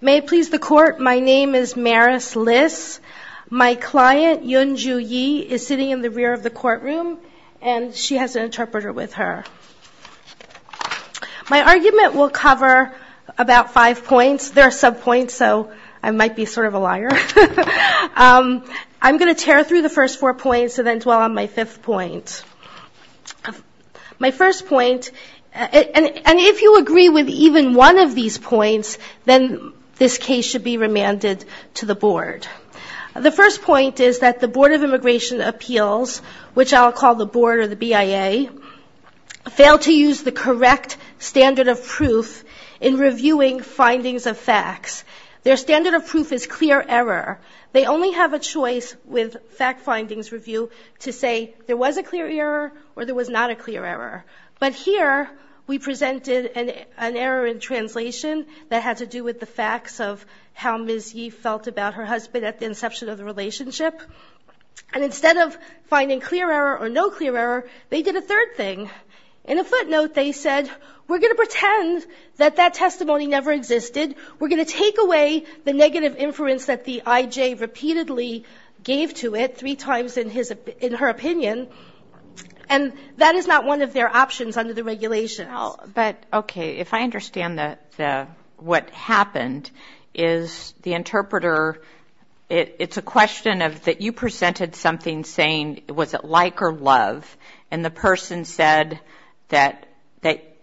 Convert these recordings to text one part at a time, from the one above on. May it please the Court, my name is Maris Liss. My client, Yun Ju Yi, is sitting in the rear of the courtroom, and she has an interpreter with her. My argument will cover about five points. There are sub-points, so I might be sort of a liar. I'm going to tear through the first four points and then dwell on my fifth point. My first point, and if you agree with even one of these points, then this case should be remanded to the Board. The first point is that the Board of Immigration Appeals, which I'll call the Board or the BIA, failed to use the correct standard of proof in reviewing findings of facts. Their standard of proof is clear error. They only have a choice with fact findings review to say there was a clear error or there was not a clear error. But here we presented an error in translation that had to do with the facts of how Ms. Yi felt about her husband at the inception of the relationship. And instead of finding clear error or no clear error, they did a third thing. In a footnote, they said, we're going to pretend that that testimony never existed, we're going to take away the negative inference that the IJ repeatedly gave to it three times in her opinion, and that is not one of their options under the regulations. But, okay, if I understand what happened, is the interpreter, it's a question of that you presented something saying, was it like or love, and the person said that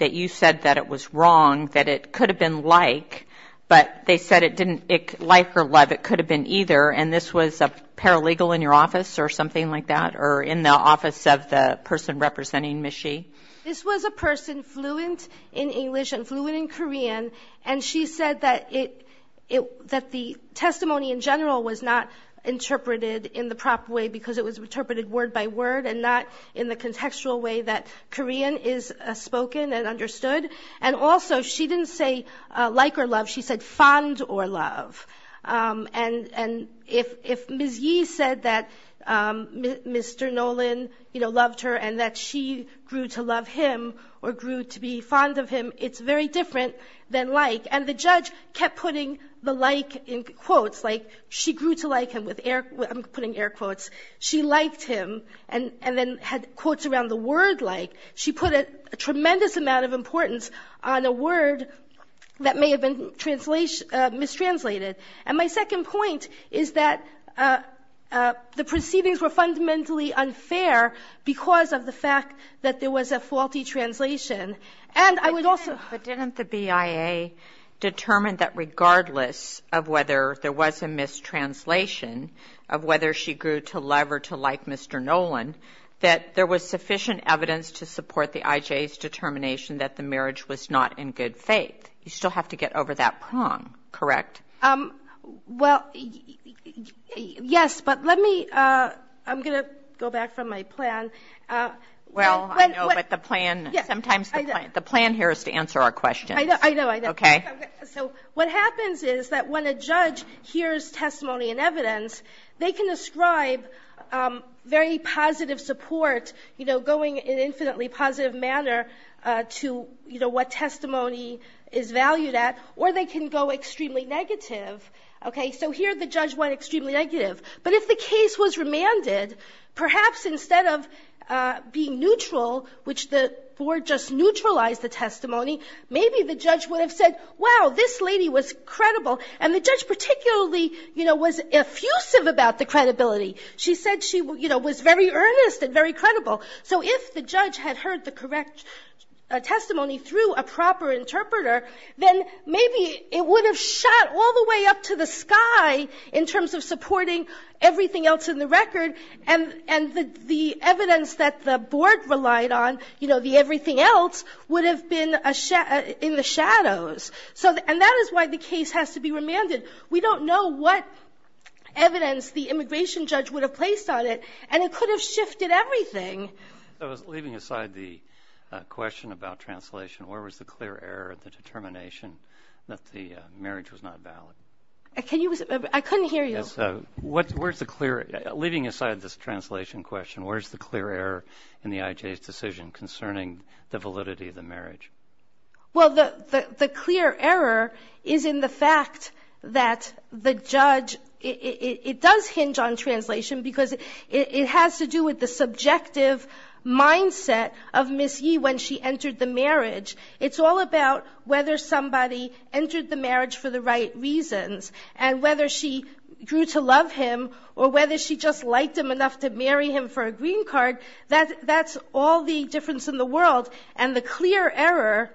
you said that it was wrong, that it could have been like, but they said it didn't, like or love, it could have been either, and this was a paralegal in your office or something like that, or in the office of the person representing Ms. Yi? This was a person fluent in English and fluent in Korean, and she said that the testimony in general was not interpreted in the proper way because it was interpreted word by word and not in the contextual way that Korean is spoken and understood, and also she didn't say like or love, she said fond or love. And if Ms. Yi said that Mr. Nolan loved her and that she grew to love him or grew to be fond of him, it's very different than like, and the judge kept putting the like in quotes, like, she grew to like him, I'm putting air quotes, she liked him, and then had quotes around the word like. She put a tremendous amount of importance on a word that may have been mistranslated, and my second point is that the proceedings were fundamentally unfair because of the fact that there was a faulty translation, and I would also... But didn't the BIA determine that regardless of whether there was a mistranslation of whether she grew to love or to like Mr. Nolan, that there was sufficient evidence to support the IJ's determination that the marriage was not in good faith? You still have to get over that prong, correct? Well, yes, but let me, I'm going to go back from my plan. Well, I know, but the plan, sometimes the plan here is to answer our questions. I know, I know. Okay. So what happens is that when a judge hears testimony and evidence, they can ascribe very positive support, you know, going in an infinitely positive manner to, you know, what testimony is valued at, or they can go extremely negative. Okay, so here the judge went extremely negative, but if the case was remanded, perhaps instead of being neutral, which the board just neutralized the testimony, maybe the judge would have said, wow, this lady was credible. And the judge particularly, you know, was effusive about the credibility. She said she, you know, was very earnest and very credible. So if the judge had heard the correct testimony through a proper interpreter, then maybe it would have shot all the way up to the sky in terms of supporting everything else in the record, and the evidence that the board relied on, you know, the everything else, would have been in the shadows. And that is why the case has to be remanded. We don't know what evidence the immigration judge would have placed on it, and it could have shifted everything. Leaving aside the question about translation, where was the clear error of the determination that the marriage was not valid? I couldn't hear you. Leaving aside this translation question, where is the clear error in the IJ's decision concerning the validity of the marriage? Well, the clear error is in the fact that the judge, it does hinge on translation because it has to do with the subjective mindset of Ms. Yee when she entered the marriage. It's all about whether somebody entered the marriage for the right reasons and whether she grew to love him or whether she just liked him enough to marry him for a green card. That's all the difference in the world. And the clear error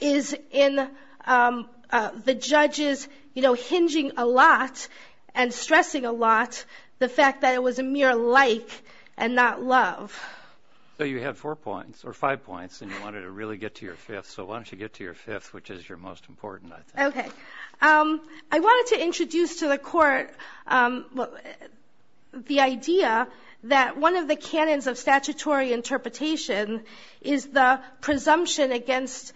is in the judges, you know, hinging a lot and stressing a lot the fact that it was a mere like and not love. So you had four points, or five points, and you wanted to really get to your fifth. So why don't you get to your fifth, which is your most important, I think. Okay. I wanted to introduce to the court the idea that one of the canons of statutory interpretation is the presumption against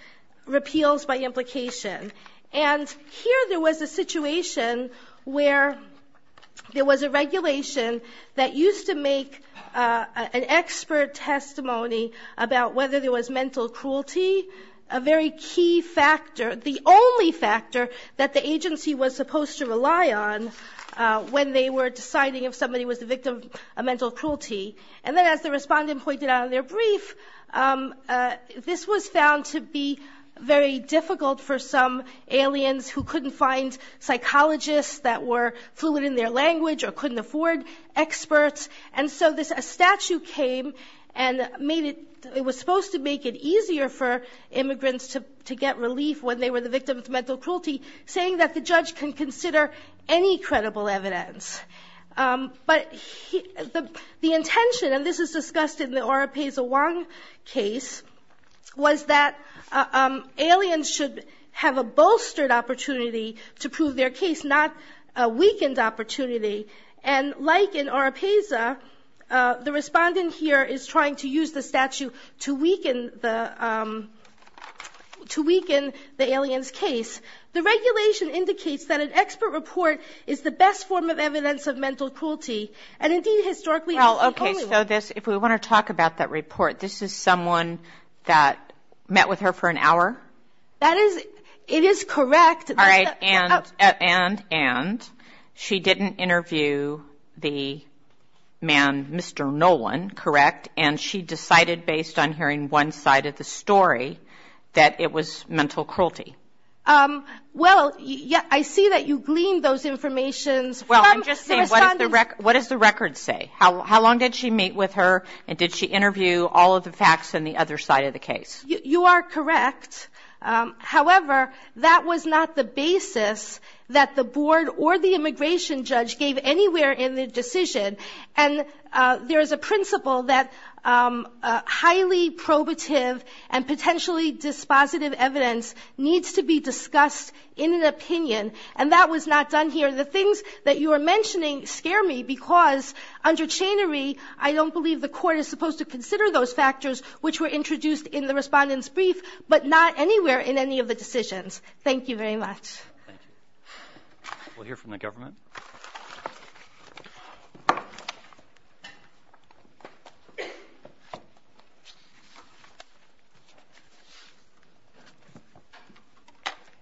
repeals by implication. And here there was a situation where there was a regulation that used to make an expert testimony about whether there was mental cruelty, a very key factor, the only factor that the agency was supposed to rely on when they were deciding if somebody was the victim of mental cruelty. And then as the respondent pointed out in their brief, this was found to be very difficult for some aliens who couldn't find psychologists that were fluent in their language or couldn't afford experts. And so a statute came and made it, it was supposed to make it easier for immigrants to get relief when they were the victim of mental cruelty, saying that the judge can consider any credible evidence. But the intention, and this is discussed in the Oropesa Wong case, was that aliens should have a bolstered opportunity to prove their case, not a weakened opportunity. And like in Oropesa, the respondent here is trying to use the statute to weaken the alien's case. The regulation indicates that an expert report is the best form of evidence of mental cruelty, and indeed historically it's the only one. Well, okay, so this, if we want to talk about that report, this is someone that met with her for an hour? That is, it is correct. All right, and, and, and. She didn't interview the man, Mr. Nolan, correct? And she decided, based on hearing one side of the story, that it was mental cruelty. Well, I see that you gleaned those informations from the respondent. Well, I'm just saying, what does the record say? How long did she meet with her, and did she interview all of the facts on the other side of the case? You are correct. However, that was not the basis that the board or the immigration judge gave anywhere in the decision. And there is a principle that highly probative and potentially dispositive evidence needs to be discussed in an opinion, and that was not done here. The things that you are mentioning scare me because under chainery, I don't believe the court is supposed to consider those factors which were introduced in the respondent's brief, but not anywhere in any of the decisions. Thank you very much. Thank you. We'll hear from the government.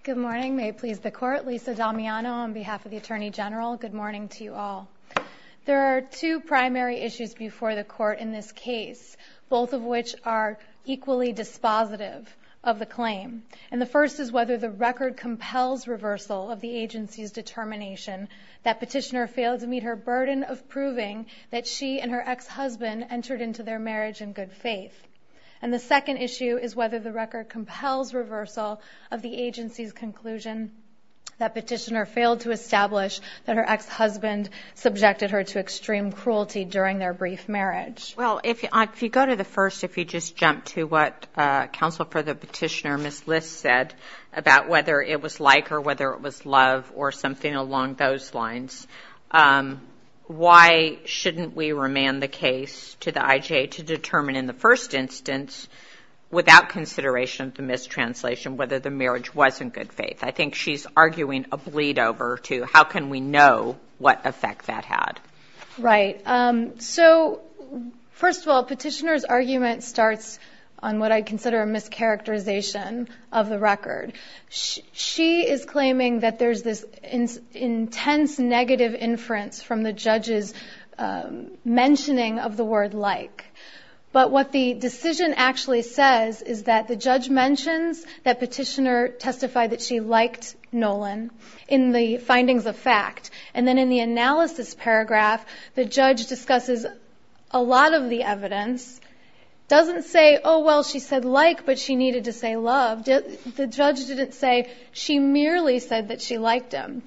Good morning. May it please the court. Lisa Damiano on behalf of the Attorney General. Good morning to you all. There are two primary issues before the court in this case, both of which are equally dispositive of the claim. And the first is whether the record compels reversal of the agency's determination that Petitioner failed to meet her burden of proving that she and her ex-husband entered into their marriage in good faith. And the second issue is whether the record compels reversal of the agency's conclusion that Petitioner failed to establish that her ex-husband subjected her to extreme cruelty during their brief marriage. Well, if you go to the first, if you just jump to what Counsel for the Petitioner, Ms. List, said about whether it was like or whether it was love or something along those lines, why shouldn't we remand the case to the IJ to determine in the first instance, without consideration of the mistranslation, whether the marriage was in good faith? I think she's arguing a bleed-over to how can we know what effect that had. Right. So first of all, Petitioner's argument starts on what I consider a mischaracterization of the record. She is claiming that there's this intense negative inference from the judge's mentioning of the word like. But what the decision actually says is that the judge mentions that Petitioner testified that she liked Nolan in the findings of fact. And then in the analysis paragraph, the judge discusses a lot of the evidence, doesn't say, oh, well, she said like, but she needed to say love. The judge didn't say she merely said that she liked him.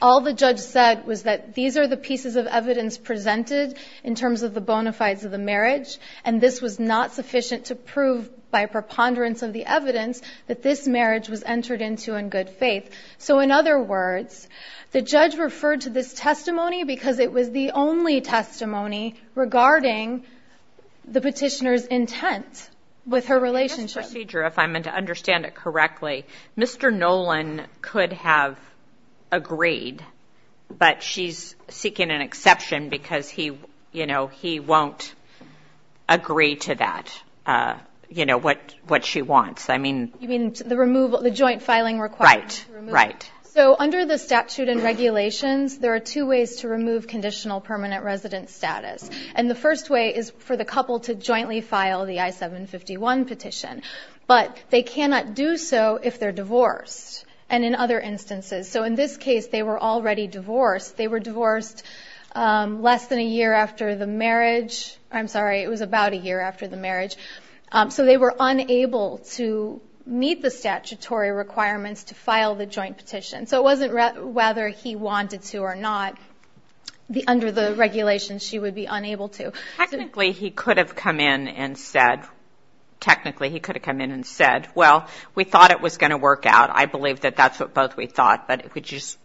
All the judge said was that these are the pieces of evidence presented in terms of the bona fides of the marriage, and this was not sufficient to prove by preponderance of the evidence that this marriage was entered into in good faith. So in other words, the judge referred to this testimony because it was the only testimony regarding the Petitioner's intent with her relationship. In this procedure, if I'm going to understand it correctly, Mr. Nolan could have agreed, but she's seeking an exception because he won't agree to that, you know, what she wants. You mean the joint filing requirement? Right, right. So under the statute and regulations, there are two ways to remove conditional permanent resident status. And the first way is for the couple to jointly file the I-751 petition, but they cannot do so if they're divorced, and in other instances. So in this case, they were already divorced. They were divorced less than a year after the marriage. I'm sorry, it was about a year after the marriage. So they were unable to meet the statutory requirements to file the joint petition. So it wasn't whether he wanted to or not. Under the regulations, she would be unable to. Technically, he could have come in and said, technically he could have come in and said, well, we thought it was going to work out. I believe that that's what both we thought, but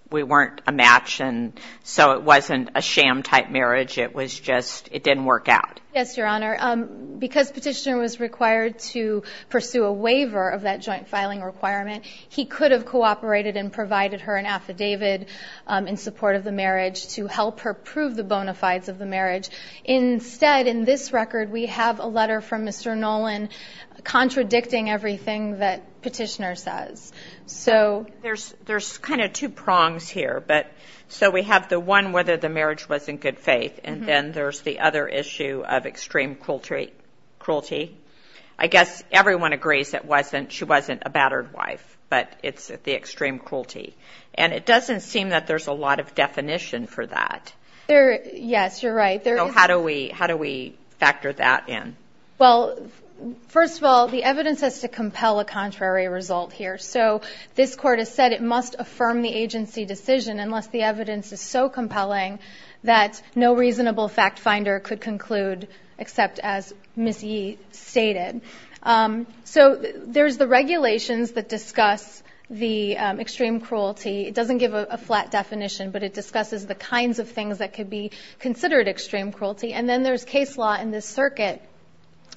we weren't a match, and so it wasn't a sham-type marriage. It was just it didn't work out. Yes, Your Honor. Because Petitioner was required to pursue a waiver of that joint filing requirement, he could have cooperated and provided her an affidavit in support of the marriage to help her prove the bona fides of the marriage. Instead, in this record, we have a letter from Mr. Nolan contradicting everything that Petitioner says. There's kind of two prongs here. So we have the one, whether the marriage was in good faith, and then there's the other issue of extreme cruelty. I guess everyone agrees that she wasn't a battered wife, but it's the extreme cruelty. And it doesn't seem that there's a lot of definition for that. Yes, you're right. So how do we factor that in? Well, first of all, the evidence has to compel a contrary result here. So this Court has said it must affirm the agency decision unless the evidence is so compelling that no reasonable fact-finder could conclude, except as Ms. Yee stated. So there's the regulations that discuss the extreme cruelty. It doesn't give a flat definition, but it discusses the kinds of things that could be considered extreme cruelty. And then there's case law in this circuit.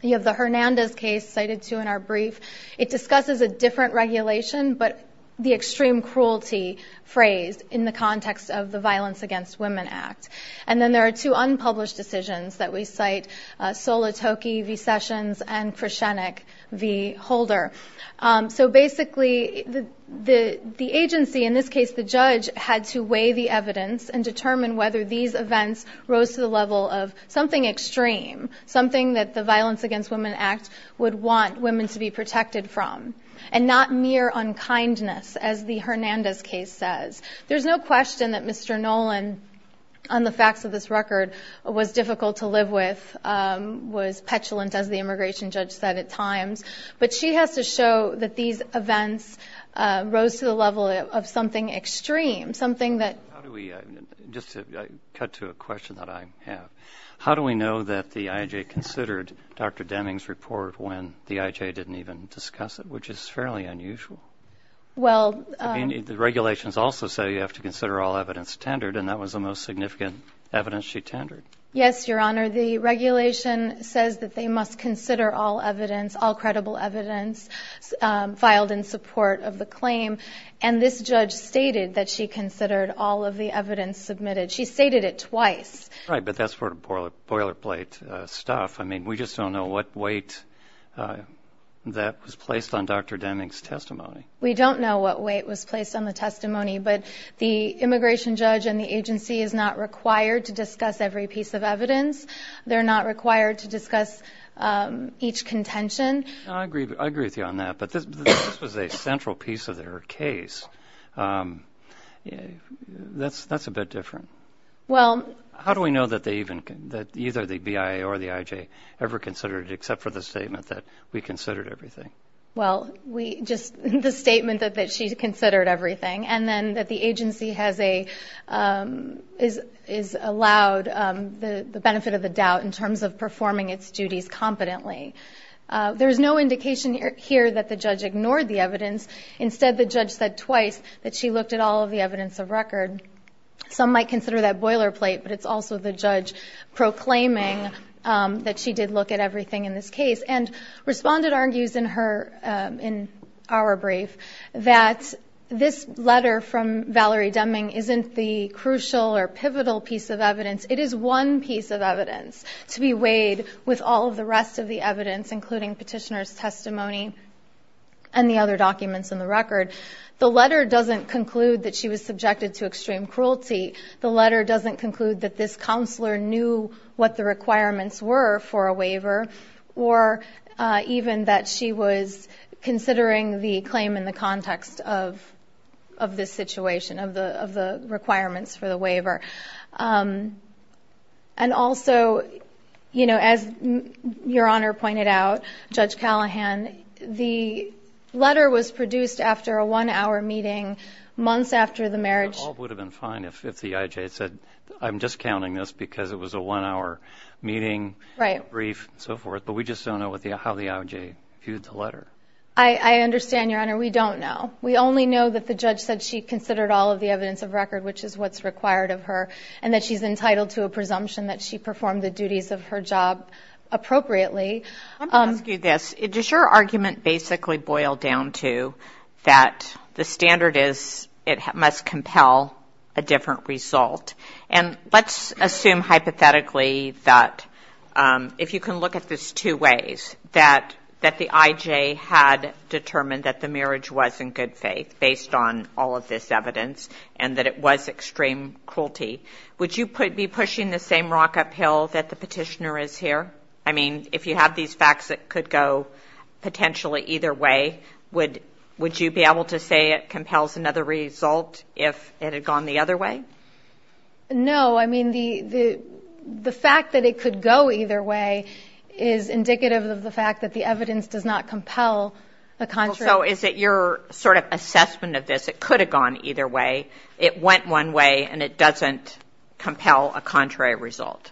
You have the Hernandez case cited, too, in our brief. It discusses a different regulation, but the extreme cruelty phrased in the context of the Violence Against Women Act. And then there are two unpublished decisions that we cite, Solotokie v. Sessions and Krushenick v. Holder. So basically the agency, in this case the judge, had to weigh the evidence and determine whether these events rose to the level of something extreme, something that the Violence Against Women Act would want women to be protected from, and not mere unkindness, as the Hernandez case says. There's no question that Mr. Nolan, on the facts of this record, was difficult to live with, was petulant, as the immigration judge said at times. But she has to show that these events rose to the level of something extreme, something that... Just to cut to a question that I have. How do we know that the IHA considered Dr. Deming's report when the IHA didn't even discuss it, which is fairly unusual? Well... The regulations also say you have to consider all evidence tendered, and that was the most significant evidence she tendered. Yes, Your Honor. The regulation says that they must consider all evidence, all credible evidence filed in support of the claim, and this judge stated that she considered all of the evidence submitted. She stated it twice. Right, but that's sort of boilerplate stuff. I mean, we just don't know what weight that was placed on Dr. Deming's testimony. We don't know what weight was placed on the testimony, but the immigration judge and the agency is not required to discuss every piece of evidence. They're not required to discuss each contention. I agree with you on that, but this was a central piece of their case. That's a bit different. How do we know that either the BIA or the IHA ever considered it, except for the statement that we considered everything? Well, just the statement that she considered everything, and then that the agency has allowed the benefit of the doubt in terms of performing its duties competently. There is no indication here that the judge ignored the evidence. Instead, the judge said twice that she looked at all of the evidence of record. Some might consider that boilerplate, but it's also the judge proclaiming that she did look at everything in this case. And Respondent argues in our brief that this letter from Valerie Deming isn't the crucial or pivotal piece of evidence. It is one piece of evidence to be weighed with all of the rest of the evidence, including petitioner's testimony and the other documents in the record. The letter doesn't conclude that she was subjected to extreme cruelty. The letter doesn't conclude that this counselor knew what the requirements were for a waiver, or even that she was considering the claim in the context of this situation, of the requirements for the waiver. And also, as Your Honor pointed out, Judge Callahan, the letter was produced after a one-hour meeting months after the marriage. It all would have been fine if the IJ had said, I'm just counting this because it was a one-hour meeting, brief, and so forth. But we just don't know how the IJ viewed the letter. I understand, Your Honor. We don't know. We only know that the judge said she considered all of the evidence of record, which is what's required of her, and that she's entitled to a presumption that she performed the duties of her job appropriately. I want to ask you this. Does your argument basically boil down to that the standard is it must compel a different result? And let's assume hypothetically that, if you can look at this two ways, that the IJ had determined that the marriage was in good faith, based on all of this evidence, and that it was extreme cruelty. Would you be pushing the same rock uphill that the petitioner is here? I mean, if you have these facts that could go potentially either way, would you be able to say it compels another result if it had gone the other way? No. I mean, the fact that it could go either way is indicative of the fact that the evidence does not compel a contrary. So is it your sort of assessment of this? It could have gone either way. It went one way, and it doesn't compel a contrary result.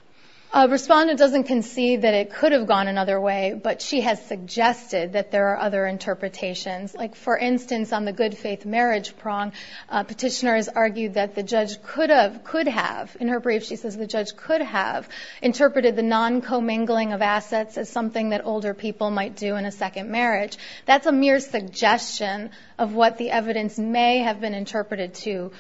Respondent doesn't concede that it could have gone another way, but she has suggested that there are other interpretations. Like, for instance, on the good faith marriage prong, petitioner has argued that the judge could have, in her brief, she says, the judge could have interpreted the non-commingling of assets as something that older people might do in a second marriage. That's a mere suggestion of what the evidence may have been interpreted to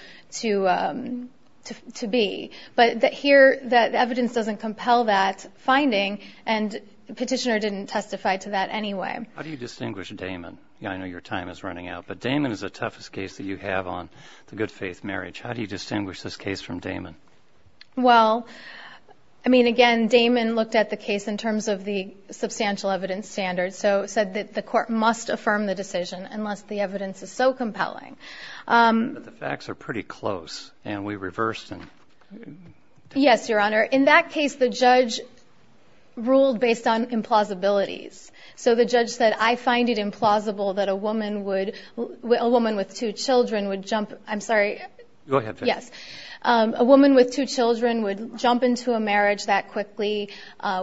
be. But here, the evidence doesn't compel that finding, and petitioner didn't testify to that anyway. How do you distinguish Damon? I know your time is running out, but Damon is the toughest case that you have on the good faith marriage. How do you distinguish this case from Damon? Well, I mean, again, Damon looked at the case in terms of the substantial evidence standard, so said that the court must affirm the decision unless the evidence is so compelling. But the facts are pretty close, and we reversed and... Yes, Your Honor. In that case, the judge ruled based on implausibilities. So the judge said, I find it implausible that a woman would, a woman with two children would jump... I'm sorry. Go ahead. Yes. A woman with two children would jump into a marriage that quickly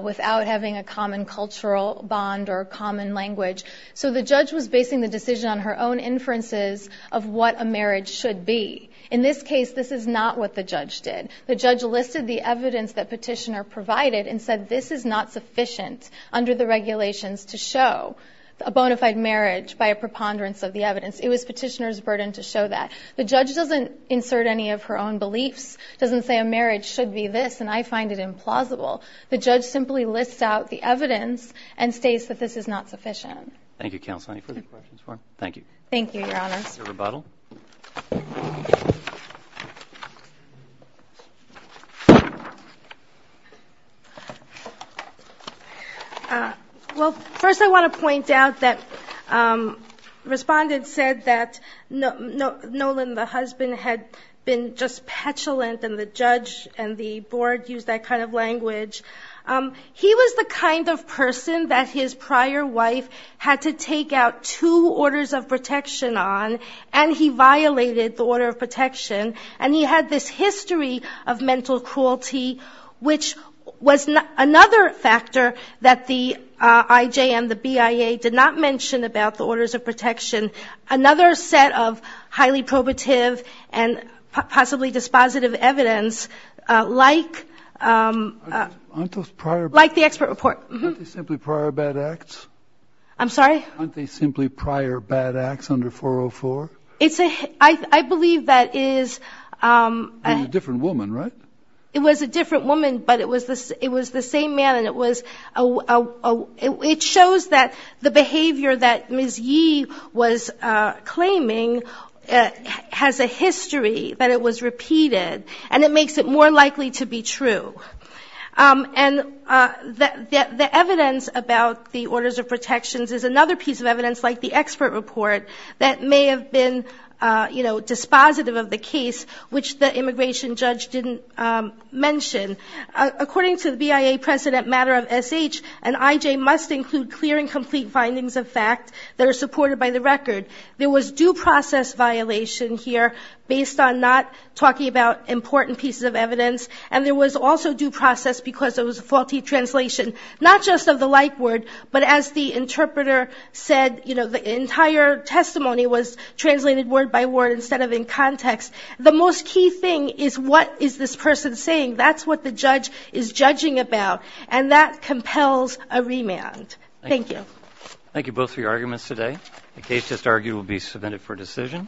without having a common cultural bond or common language. So the judge was basing the decision on her own inferences of what a marriage should be. In this case, this is not what the judge did. The judge listed the evidence that petitioner provided and said, this is not sufficient under the regulations to show a bona fide marriage by a preponderance of the evidence. It was petitioner's burden to show that. The judge doesn't insert any of her own beliefs, doesn't say a marriage should be this, and I find it implausible. The judge simply lists out the evidence and states that this is not sufficient. Thank you, Counsel. Any further questions for him? Thank you. Thank you, Your Honors. Rebuttal. Well, first I want to point out that Respondent said that Nolan, the husband, had been just petulant, and the judge and the board used that kind of language. He was the kind of person that his prior wife had to take out two orders of protection on, and he violated the order of protection, and he had this history of mental cruelty, which was another factor that the IJM, the BIA, did not mention about the orders of protection, another set of highly probative and possibly dispositive evidence like the expert report. Aren't they simply prior bad acts? I'm sorry? Aren't they simply prior bad acts under 404? I believe that is. It was a different woman, right? It was a different woman, but it was the same man, and it shows that the behavior that Ms. Yee was claiming has a history that it was repeated, and it makes it more likely to be true. And the evidence about the orders of protections is another piece of evidence like the expert report that may have been, you know, dispositive of the case, which the immigration judge didn't mention. According to the BIA precedent matter of SH, an IJ must include clear and complete findings of fact that are supported by the record. There was due process violation here based on not talking about important pieces of evidence, and there was also due process because it was a faulty translation, not just of the like word, but as the interpreter said, you know, the entire testimony was translated word by word instead of in context. The most key thing is what is this person saying? That's what the judge is judging about, and that compels a remand. Thank you. Thank you both for your arguments today. The case just argued will be submitted for decision.